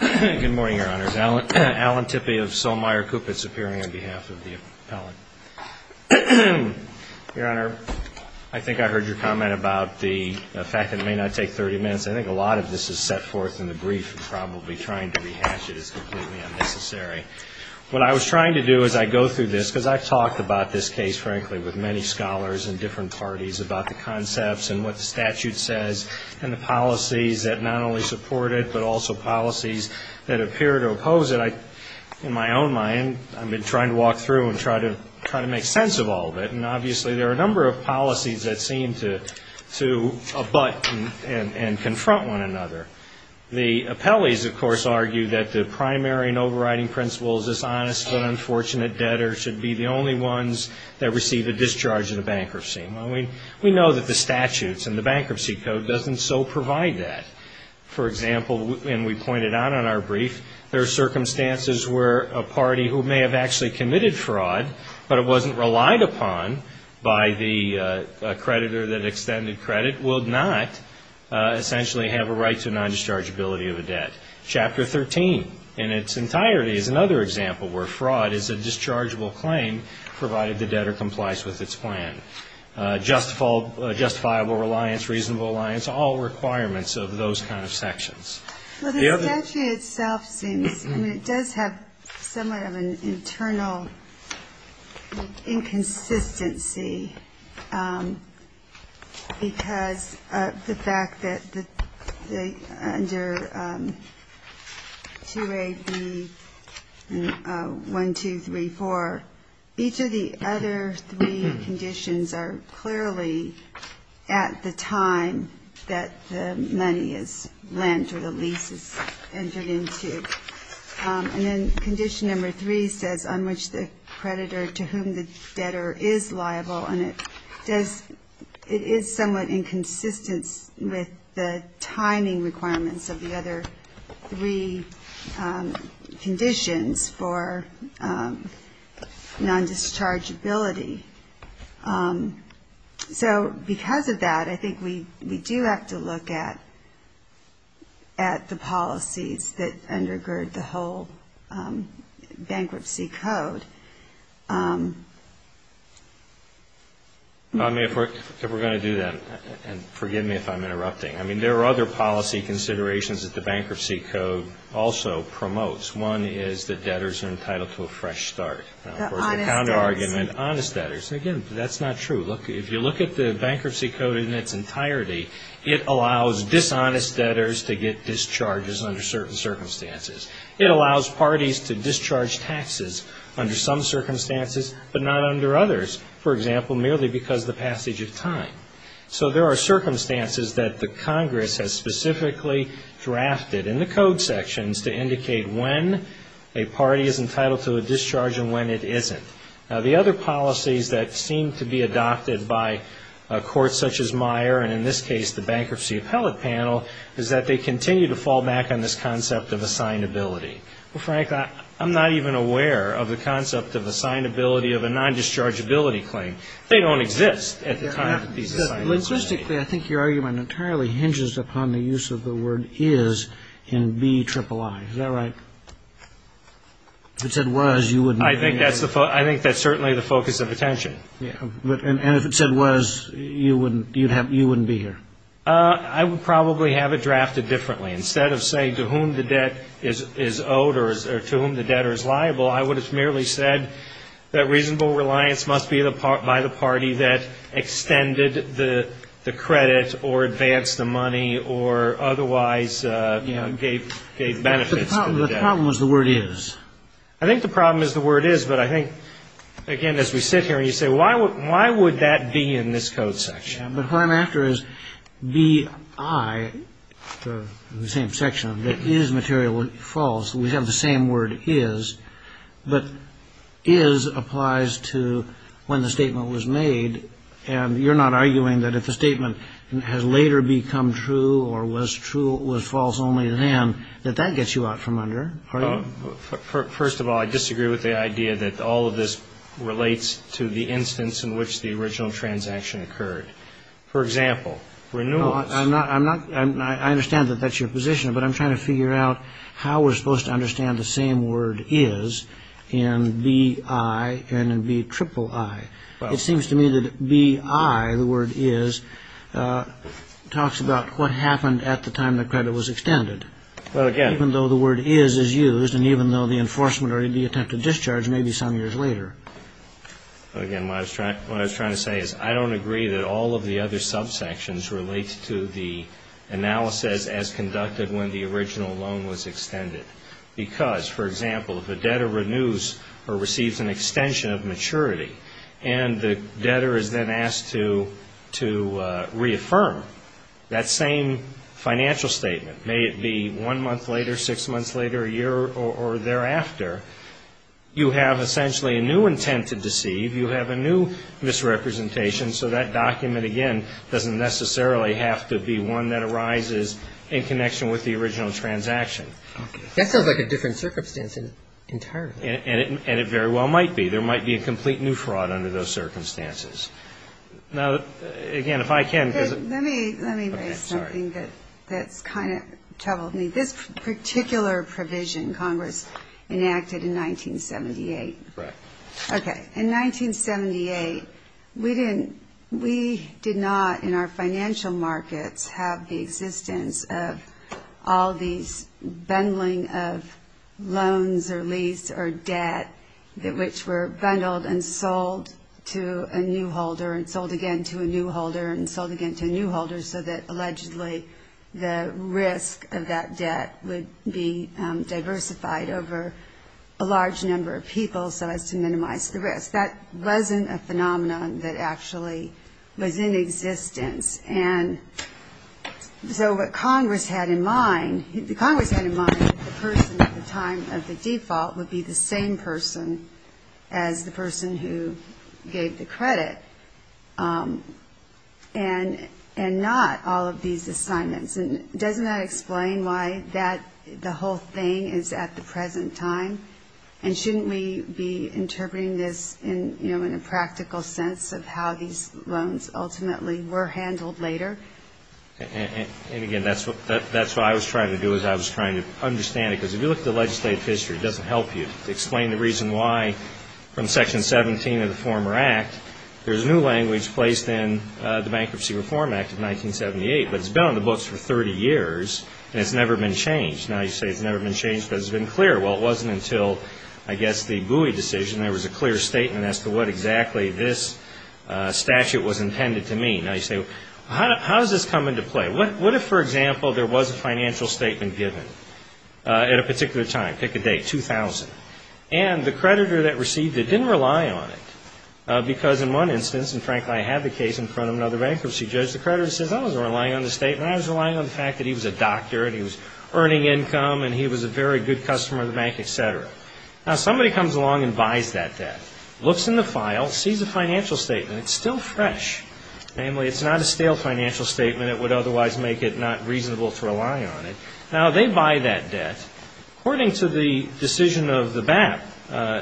Good morning, Your Honors. Alan Tippey of Solmeyer Cupid Superior on behalf of the appellate. Your Honor, I think I heard your comment about the fact that it may not take 30 minutes. I think a lot of this is set forth in the brief and probably trying to rehash it is completely unnecessary. What I was trying to do as I go through this, because I've talked about this case, frankly, with many scholars and different parties about the concepts and what the statute says and the policies that not only support it but also policies that appear to oppose it. In my own mind, I've been trying to walk through and try to make sense of all of it, and obviously there are a number of policies that seem to abut and confront one another. The appellees, of course, argue that the primary and overriding principle is this honest but unfortunate debtor should be the only ones that receive a discharge in a bankruptcy. We know that the statutes and the bankruptcy code doesn't so provide that. For example, and we pointed out in our brief, there are circumstances where a party who may have actually committed fraud but it wasn't relied upon by the creditor that extended credit will not essentially have a right to a non-dischargeability of a debt. Chapter 13 in its entirety is another example where fraud is a dischargeable claim provided the debtor complies with its plan. Justifiable reliance, reasonable reliance, all requirements of those kind of sections. Well, the statute itself seems, I mean, it does have somewhat of an internal inconsistency because of the fact that under 2AB1234, each of the other three conditions are clearly at the time that the money is lent or the lease is entered into. And then condition number three says on which the creditor to whom the debtor is liable, and it does, it is somewhat inconsistent with the timing requirements of the other three conditions for non-dischargeability. So because of that, I think we do have to look at the policies that undergird the whole bankruptcy code. If we're going to do that, and forgive me if I'm interrupting, I mean, there are other policy considerations that the bankruptcy code also promotes. One is that debtors are entitled to a fresh start. Of course, the counterargument, honest debtors. Again, that's not true. If you look at the bankruptcy code in its entirety, it allows dishonest debtors to get discharges under certain circumstances. It allows parties to discharge taxes under some circumstances but not under others, for example, merely because of the passage of time. So there are circumstances that the Congress has specifically drafted in the code sections to indicate when a party is entitled to a discharge and when it isn't. Now, the other policies that seem to be adopted by courts such as Meyer, and in this case the Bankruptcy Appellate Panel, is that they continue to fall back on this concept of assignability. Well, Frank, I'm not even aware of the concept of assignability of a non-dischargeability claim. They don't exist at the time of these assignability claims. Logistically, I think your argument entirely hinges upon the use of the word is in B-triple-I. Is that right? If it said was, you wouldn't be here. I think that's certainly the focus of attention. And if it said was, you wouldn't be here. I would probably have it drafted differently. Instead of saying to whom the debt is owed or to whom the debtor is liable, I would have merely said that reasonable reliance must be by the party that extended the credit or advanced the money or otherwise gave benefits to the debtor. The problem is the word is. I think the problem is the word is, but I think, again, as we sit here and you say, why would that be in this code section? But what I'm after is B-I, the same section, that is materially false. We have the same word is, but is applies to when the statement was made, and you're not arguing that if the statement has later become true or was false only then, that that gets you out from under. First of all, I disagree with the idea that all of this relates to the instance in which the original transaction occurred. For example, renewals. I understand that that's your position, but I'm trying to figure out how we're supposed to understand the same word is in B-I and in B-triple-I. It seems to me that B-I, the word is, talks about what happened at the time the credit was extended, even though the word is is used and even though the enforcement or the attempt to discharge may be some years later. Again, what I was trying to say is I don't agree that all of the other subsections relate to the analysis as conducted when the original loan was extended because, for example, if a debtor renews or receives an extension of maturity and the debtor is then asked to reaffirm that same financial statement, may it be one month later, six months later, a year or thereafter, you have essentially a new intent to deceive, you have a new misrepresentation, so that document, again, doesn't necessarily have to be one that arises in connection with the original transaction. Okay. That sounds like a different circumstance entirely. And it very well might be. There might be a complete new fraud under those circumstances. Now, again, if I can, because of... Let me raise something that's kind of troubled me. This particular provision Congress enacted in 1978. Correct. Okay. In 1978, we did not, in our financial markets, have the existence of all these bundling of loans or lease or debt which were bundled and sold to a new holder and sold again to a new holder and sold again to a new holder so that allegedly the risk of that debt would be diversified over a large number of people so as to minimize the risk. That wasn't a phenomenon that actually was in existence. And so what Congress had in mind, Congress had in mind that the person at the time of the default would be the same person as the person who gave the credit and not all of these assignments. And doesn't that explain why the whole thing is at the present time? And shouldn't we be interpreting this, you know, in a practical sense of how these loans ultimately were handled later? And, again, that's what I was trying to do is I was trying to understand it. Because if you look at the legislative history, it doesn't help you. To explain the reason why from Section 17 of the former Act, there's new language placed in the Bankruptcy Reform Act of 1978, but it's been on the books for 30 years and it's never been changed. Now you say it's never been changed because it's been clear. Well, it wasn't until, I guess, the Bowie decision there was a clear statement as to what exactly this statute was intended to mean. Now you say, how does this come into play? What if, for example, there was a financial statement given at a particular time, pick a date, 2000, and the creditor that received it didn't rely on it because in one instance, and frankly I have a case in front of another bankruptcy judge, the creditor says, oh, I was relying on the statement, I was relying on the fact that he was a doctor and he was earning income and he was a very good customer of the bank, et cetera. Now somebody comes along and buys that debt, looks in the file, sees a financial statement, it's still fresh. Namely, it's not a stale financial statement. It would otherwise make it not reasonable to rely on it. Now they buy that debt. According to the decision of the BAP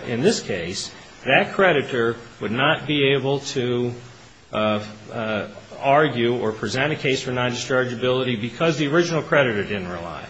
in this case, that creditor would not be able to argue or present a case for non-dischargeability because the original creditor didn't rely.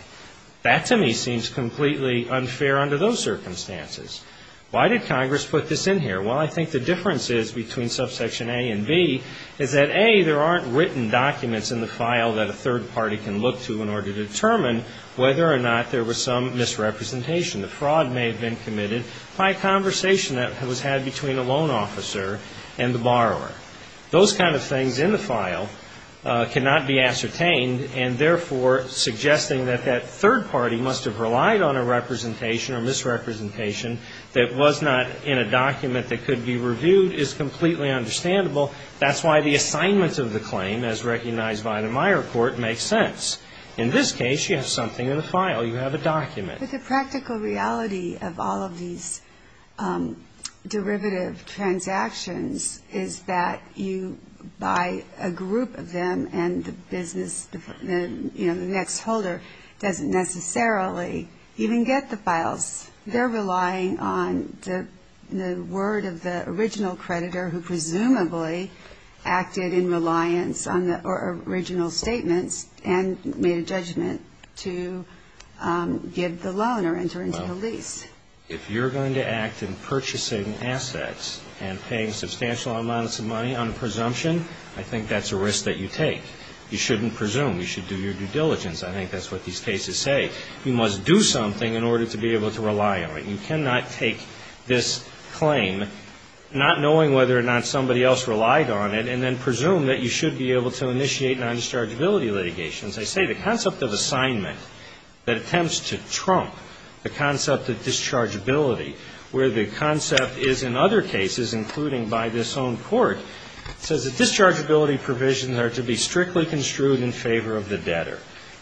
That to me seems completely unfair under those circumstances. Why did Congress put this in here? Well, I think the difference is between subsection A and B is that A, there aren't written documents in the file that a third party can look to in order to determine whether or not there was some misrepresentation. The fraud may have been committed by a conversation that was had between a loan officer and the borrower. Those kind of things in the file cannot be ascertained and, therefore, suggesting that that third party must have relied on a representation or misrepresentation that was not in a document that could be reviewed is completely understandable. That's why the assignment of the claim, as recognized by the Meyer report, makes sense. In this case, you have something in the file. You have a document. But the practical reality of all of these derivative transactions is that you buy a group of them and the business, you know, the next holder doesn't necessarily even get the files. They're relying on the word of the original creditor who presumably acted in reliance on the original statements and made a judgment to give the loan or enter into the lease. If you're going to act in purchasing assets and paying substantial amounts of money on a presumption, I think that's a risk that you take. You shouldn't presume. You should do your due diligence. I think that's what these cases say. You must do something in order to be able to rely on it. You cannot take this claim not knowing whether or not somebody else relied on it and then presume that you should be able to initiate non-dischargeability litigations. I say the concept of assignment that attempts to trump the concept of dischargeability, where the concept is in other cases, including by this own court, says that dischargeability provisions are to be strictly construed in favor of the debtor.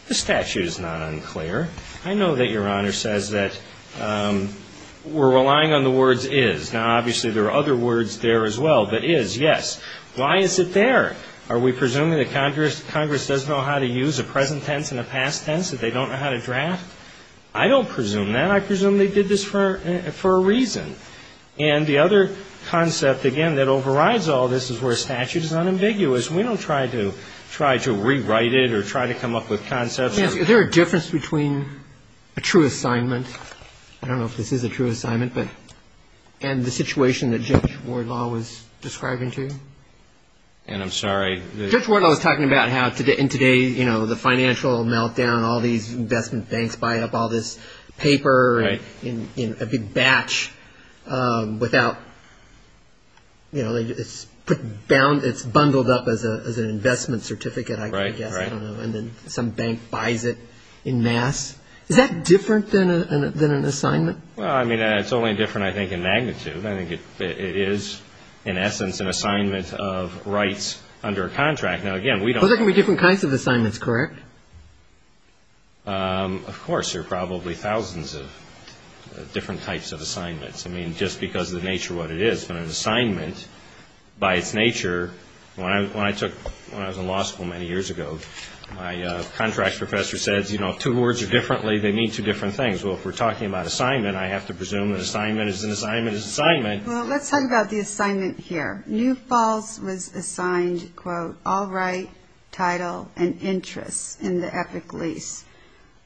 This statute is not unclear. I know that Your Honor says that we're relying on the words is. Now, obviously, there are other words there as well, but is, yes. Why is it there? Are we presuming that Congress doesn't know how to use a present tense and a past tense, that they don't know how to draft? I don't presume that. I presume they did this for a reason. And the other concept, again, that overrides all this is where statute is unambiguous. We don't try to rewrite it or try to come up with concepts. Is there a difference between a true assignment, I don't know if this is a true assignment, and the situation that Judge Wardlaw was describing to you? And I'm sorry. Judge Wardlaw was talking about how in today, you know, the financial meltdown, all these investment banks buy up all this paper in a big batch without, you know, it's bundled up as an investment certificate, I guess. And then some bank buys it en masse. Is that different than an assignment? Well, I mean, it's only different, I think, in magnitude. I think it is, in essence, an assignment of rights under a contract. Now, again, we don't Those are going to be different kinds of assignments, correct? Of course. There are probably thousands of different types of assignments. I mean, just because of the nature of what it is. But an assignment, by its nature, when I was in law school many years ago, my contract professor said, you know, two words are differently, they mean two different things. Well, if we're talking about assignment, I have to presume an assignment is an assignment is an assignment. Well, let's talk about the assignment here. New Falls was assigned, quote, all right, title, and interest in the epic lease.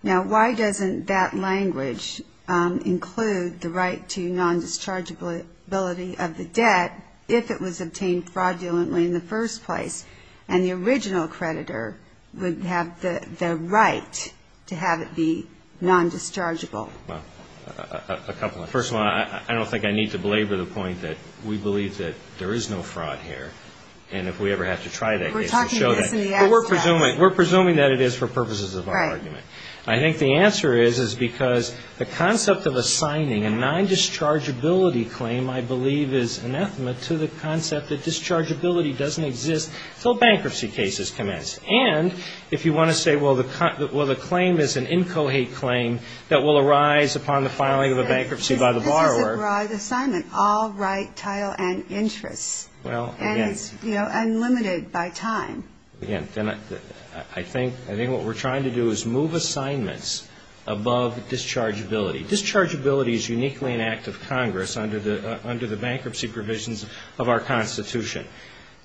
Now, why doesn't that language include the right to non-dischargeability of the debt if it was obtained fraudulently in the first place and the original creditor would have the right to have it be non-dischargeable? Well, a couple of things. First of all, I don't think I need to belabor the point that we believe that there is no fraud here and if we ever have to try that case to show that. We're presuming that it is for purposes of our argument. I think the answer is because the concept of assigning a non-dischargeability claim, I believe, is anathema to the concept that dischargeability doesn't exist until bankruptcy cases commence. And if you want to say, well, the claim is an incohate claim that will arise upon the filing of a bankruptcy by the borrower. This is a broad assignment, all right, title, and interest. Well, again. And it's, you know, unlimited by time. Again, I think what we're trying to do is move assignments above dischargeability. Dischargeability is uniquely an act of Congress under the bankruptcy provisions of our Constitution.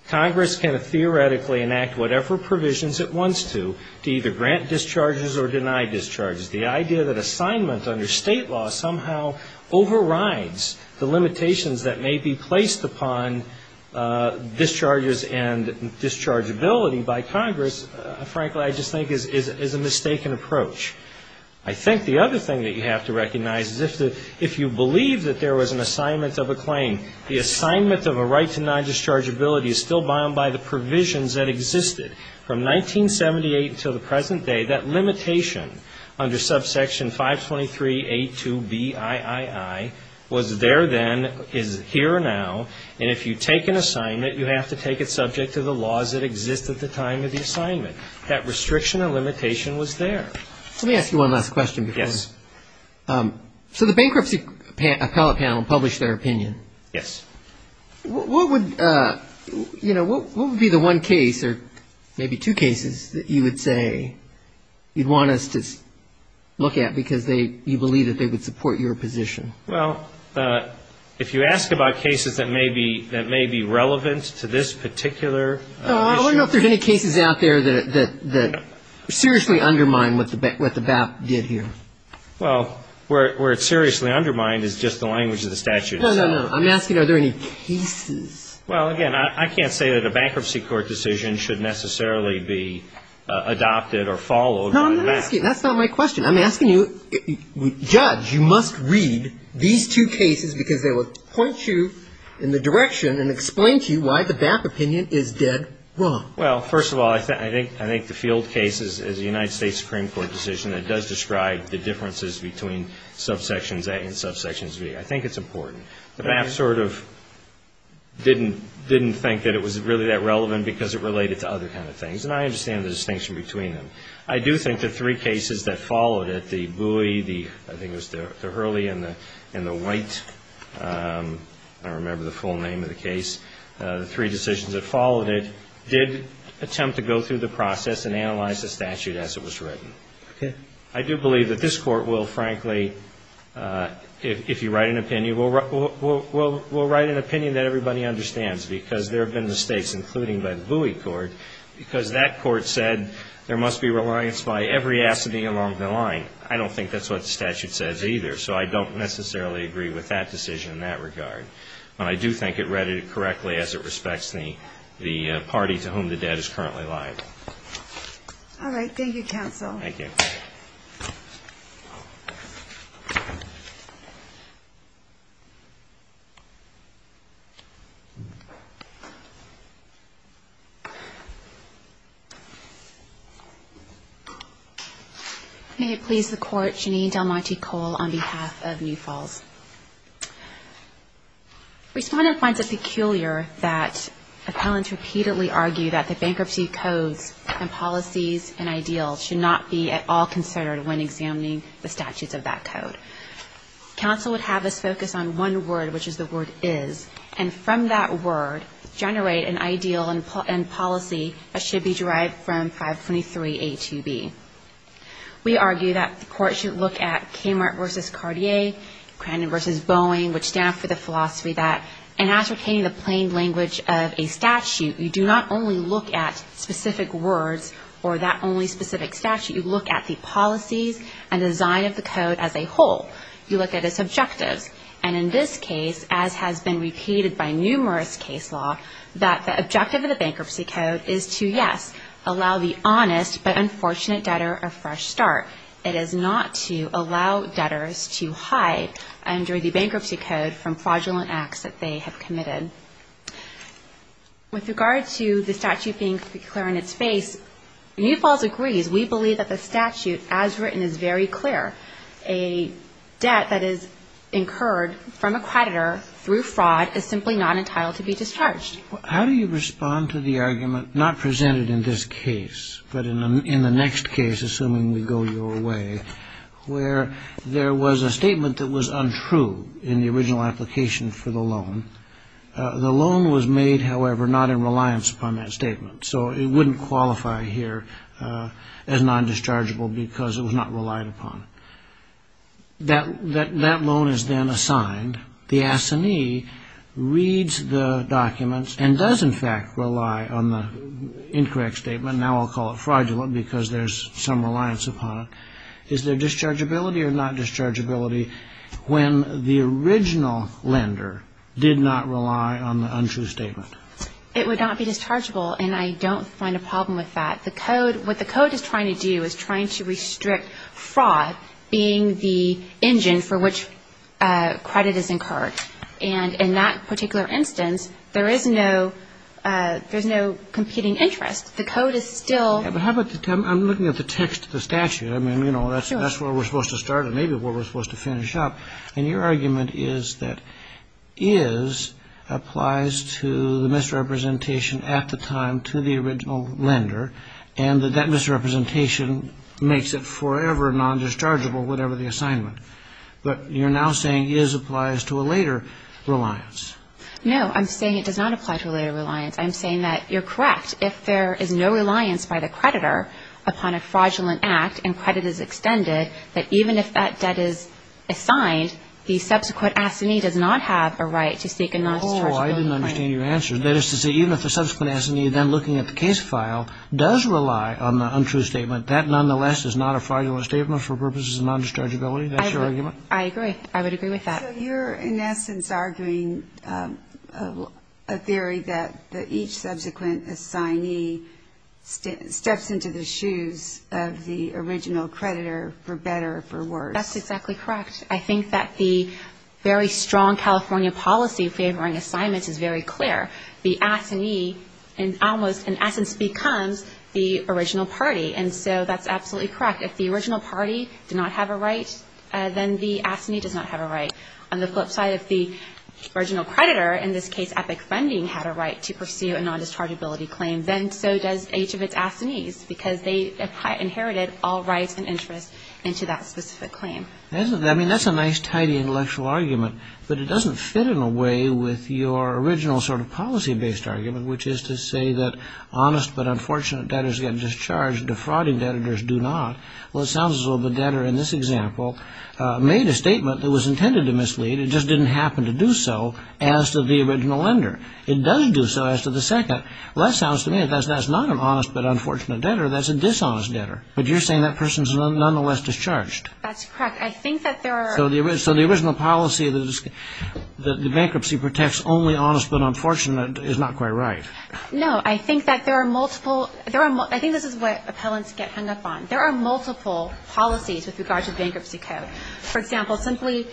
Congress can theoretically enact whatever provisions it wants to to either grant discharges or deny discharges. The idea that assignment under state law somehow overrides the limitations that may be placed upon discharges and dischargeability by Congress, frankly, I just think is a mistaken approach. I think the other thing that you have to recognize is if you believe that there was an assignment of a claim, the assignment of a right to deny dischargeability is still bound by the provisions that existed. From 1978 until the present day, that limitation under subsection 523A2BIII was there then, is here now. And if you take an assignment, you have to take it subject to the laws that exist at the time of the assignment. That restriction and limitation was there. Let me ask you one last question. Yes. So the bankruptcy appellate panel published their opinion. Yes. What would, you know, what would be the one case or maybe two cases that you would say you'd want us to look at because you believe that they would support your position? Well, if you ask about cases that may be relevant to this particular issue. I want to know if there's any cases out there that seriously undermine what the BAP did here. Well, where it seriously undermined is just the language of the statute. No, no, no. I'm asking are there any cases. Well, again, I can't say that a bankruptcy court decision should necessarily be adopted or followed by the BAP. No, I'm not asking. That's not my question. I'm asking you, judge, you must read these two cases because they will point you in the direction and explain to you why the BAP opinion is dead wrong. Well, first of all, I think the Field case is a United States Supreme Court decision. It does describe the differences between subsections A and subsections B. I think it's important. The BAP sort of didn't think that it was really that relevant because it related to other kind of things, and I understand the distinction between them. I do think the three cases that followed it, the Bowie, I think it was the Hurley and the White, I don't remember the full name of the case, the three decisions that followed it, did attempt to go through the process and analyze the statute as it was written. Okay. I do believe that this Court will, frankly, if you write an opinion, will write an opinion that everybody understands because there have been mistakes, including by the Bowie Court, because that Court said there must be reliance by every assignee along the line. I don't think that's what the statute says either, so I don't necessarily agree with that. I don't agree with that decision in that regard. But I do think it read it correctly as it respects the party to whom the debt is currently liable. All right. Thank you, counsel. Thank you. May it please the Court, Janine Del Monte Cole on behalf of New Falls. Respondent finds it peculiar that appellants repeatedly argue that the bankruptcy codes and policies and ideals should not be at all considered when examining the statutes of that code. Counsel would have us focus on one word, which is the word is, and from that word generate an ideal and policy that should be derived from 523A2B. We argue that the Court should look at Kmart v. Cartier, Crandon v. Boeing, which stand for the philosophy that in advocating the plain language of a statute, you do not only look at specific words or that only specific statute. You look at the policies and design of the code as a whole. You look at its objectives. And in this case, as has been repeated by numerous case law, that the objective of the bankruptcy code is to, yes, allow the honest but unfortunate debtor a fresh start. It is not to allow debtors to hide under the bankruptcy code from fraudulent acts that they have committed. With regard to the statute being clear in its face, New Falls agrees. We believe that the statute as written is very clear. A debt that is incurred from a creditor through fraud is simply not entitled to be discharged. How do you respond to the argument not presented in this case, but in the next case, assuming we go your way, where there was a statement that was untrue in the original application for the loan. The loan was made, however, not in reliance upon that statement. So it wouldn't qualify here as non-dischargeable because it was not relied upon. That loan is then assigned. The assignee reads the documents and does, in fact, rely on the incorrect statement. Now I'll call it fraudulent because there's some reliance upon it. Is there dischargeability or not dischargeability when the original lender did not rely on the untrue statement? It would not be dischargeable, and I don't find a problem with that. What the code is trying to do is trying to restrict fraud being the engine for which credit is incurred. And in that particular instance, there is no competing interest. The code is still – But how about the – I'm looking at the text of the statute. I mean, you know, that's where we're supposed to start and maybe where we're supposed to finish up. And your argument is that is applies to the misrepresentation at the time to the original lender and that that misrepresentation makes it forever non-dischargeable, whatever the assignment. But you're now saying is applies to a later reliance. No, I'm saying it does not apply to a later reliance. I'm saying that you're correct if there is no reliance by the creditor upon a fraudulent act and credit is extended, that even if that debt is assigned, the subsequent assignee does not have a right to seek a non-dischargeable payment. Oh, I didn't understand your answer. That is to say even if the subsequent assignee then looking at the case file does rely on the untrue statement, that nonetheless is not a fraudulent statement for purposes of non-dischargeability? That's your argument? I agree. I would agree with that. So you're, in essence, arguing a theory that each subsequent assignee steps into the shoes of the original creditor for better or for worse. That's exactly correct. I think that the very strong California policy favoring assignments is very clear. The assignee almost, in essence, becomes the original party. And so that's absolutely correct. In fact, if the original party did not have a right, then the assignee does not have a right. On the flip side, if the original creditor, in this case Epic Funding, had a right to pursue a non-dischargeability claim, then so does each of its assignees because they inherited all rights and interests into that specific claim. I mean, that's a nice, tidy intellectual argument, but it doesn't fit in a way with your original sort of policy-based argument, which is to say that honest but unfortunate debtors get discharged, defrauding debtors do not. Well, it sounds as though the debtor in this example made a statement that was intended to mislead. It just didn't happen to do so as to the original lender. It does do so as to the second. Well, that sounds to me like that's not an honest but unfortunate debtor. That's a dishonest debtor. But you're saying that person is nonetheless discharged. That's correct. I think that there are... So the original policy that the bankruptcy protects only honest but unfortunate is not quite right. No. I think that there are multiple... I think this is what appellants get hung up on. There are multiple policies with regard to the bankruptcy code. For example, simply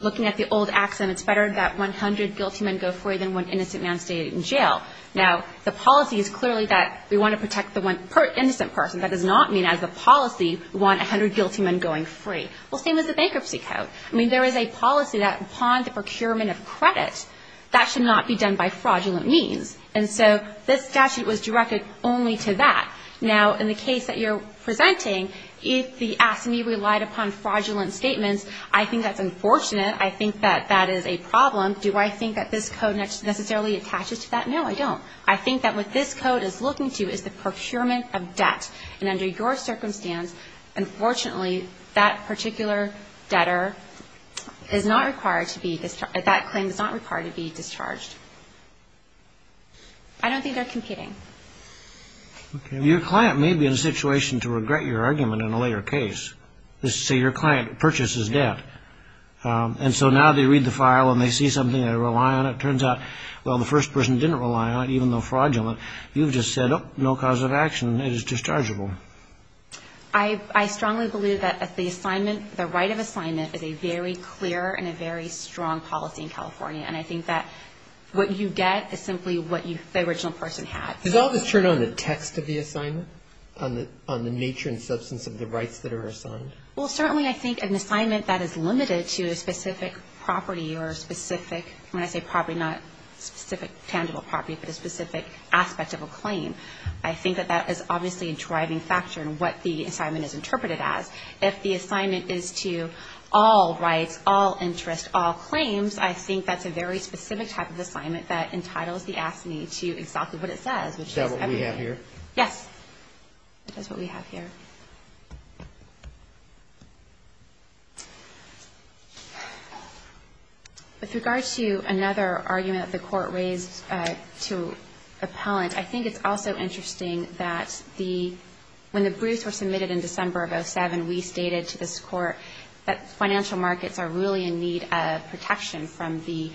looking at the old accent, it's better that 100 guilty men go free than one innocent man stay in jail. Now, the policy is clearly that we want to protect the one innocent person. That does not mean as a policy we want 100 guilty men going free. Well, same as the bankruptcy code. I mean, there is a policy that upon the procurement of credit, that should not be done by fraudulent means. And so this statute was directed only to that. Now, in the case that you're presenting, if the AFSCME relied upon fraudulent statements, I think that's unfortunate. I think that that is a problem. Do I think that this code necessarily attaches to that? No, I don't. I think that what this code is looking to is the procurement of debt. And under your circumstance, unfortunately, that particular debtor is not required to be discharged. That claim is not required to be discharged. I don't think they're competing. Okay. Your client may be in a situation to regret your argument in a later case. Let's say your client purchases debt. And so now they read the file and they see something they rely on. It turns out, well, the first person didn't rely on it, even though fraudulent. You've just said, oh, no cause of action. It is dischargeable. I strongly believe that the assignment, the right of assignment is a very clear and a very strong policy in California. And I think that what you get is simply what the original person had. Does all this turn on the text of the assignment, on the nature and substance of the rights that are assigned? Well, certainly I think an assignment that is limited to a specific property or a specific, when I say property, not specific tangible property, but a specific aspect of a claim, I think that that is obviously a driving factor in what the assignment is interpreted as. If the assignment is to all rights, all interests, all claims, I think that's a very specific type of assignment that entitles the assignee to exactly what it says, which is everything. Is that what we have here? Yes. That's what we have here. Thank you. With regards to another argument that the Court raised to appellant, I think it's also interesting that when the briefs were submitted in December of 2007, we stated to this Court that financial markets are really in need of protection from the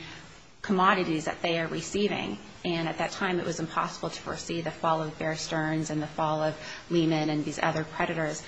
commodities that they are receiving. And at that time it was impossible to foresee the fall of Bear Stearns and the fall of Lehman and these other predators.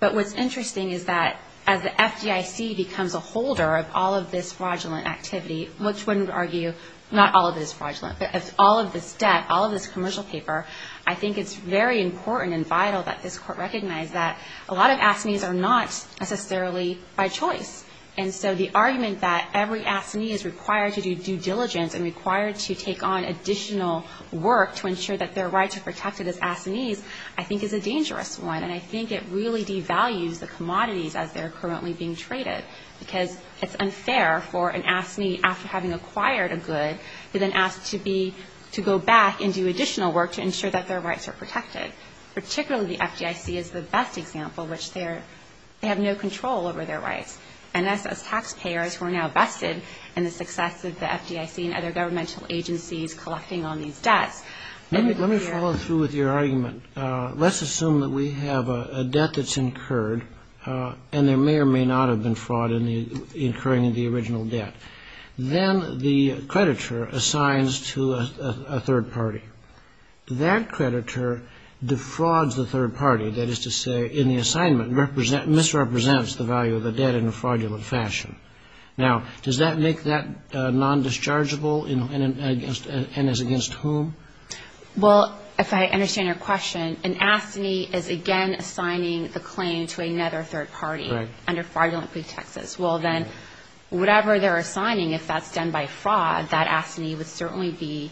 But what's interesting is that as the FDIC becomes a holder of all of this fraudulent activity, which wouldn't argue not all of it is fraudulent, but all of this debt, all of this commercial paper, I think it's very important and vital that this Court recognize that a lot of assignees are not necessarily by choice. And so the argument that every assignee is required to do due diligence and required to take on additional work to ensure that their right to protect it as assignees I think is a dangerous one. And I think it really devalues the commodities as they're currently being traded, because it's unfair for an assignee, after having acquired a good, to then ask to be to go back and do additional work to ensure that their rights are protected. Particularly the FDIC is the best example, which they have no control over their rights. And as taxpayers, we're now vested in the success of the FDIC and other governmental agencies collecting on these debts. Let me follow through with your argument. Let's assume that we have a debt that's incurred, and there may or may not have been fraud incurring the original debt. Then the creditor assigns to a third party. That creditor defrauds the third party, that is to say, in the assignment misrepresents the value of the debt in a fraudulent fashion. Now, does that make that non-dischargeable and is against whom? Well, if I understand your question, an assignee is again assigning a claim to another third party under fraudulent pretexts. Well, then, whatever they're assigning, if that's done by fraud, that assignee would certainly be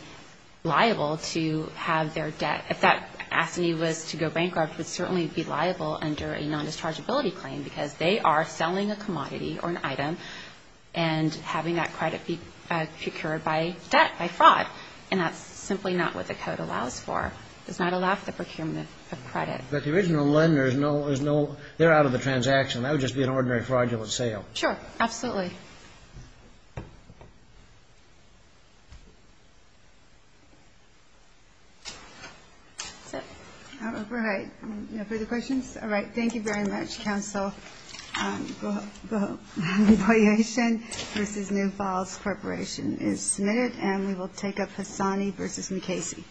liable to have their debt. If that assignee was to go bankrupt, it would certainly be liable under a non-dischargeability claim, because they are selling a commodity or an item and having that credit be procured by debt, by fraud. And that's simply not what the code allows for. It does not allow for the procurement of credit. But the original lender is no – they're out of the transaction. That would just be an ordinary fraudulent sale. Sure, absolutely. That's it. All right. Any further questions? All right. Thank you very much, Counsel. Go ahead. Go ahead. Revaluation v. New Falls Corporation is submitted, and we will take up Hassani v. McCasey.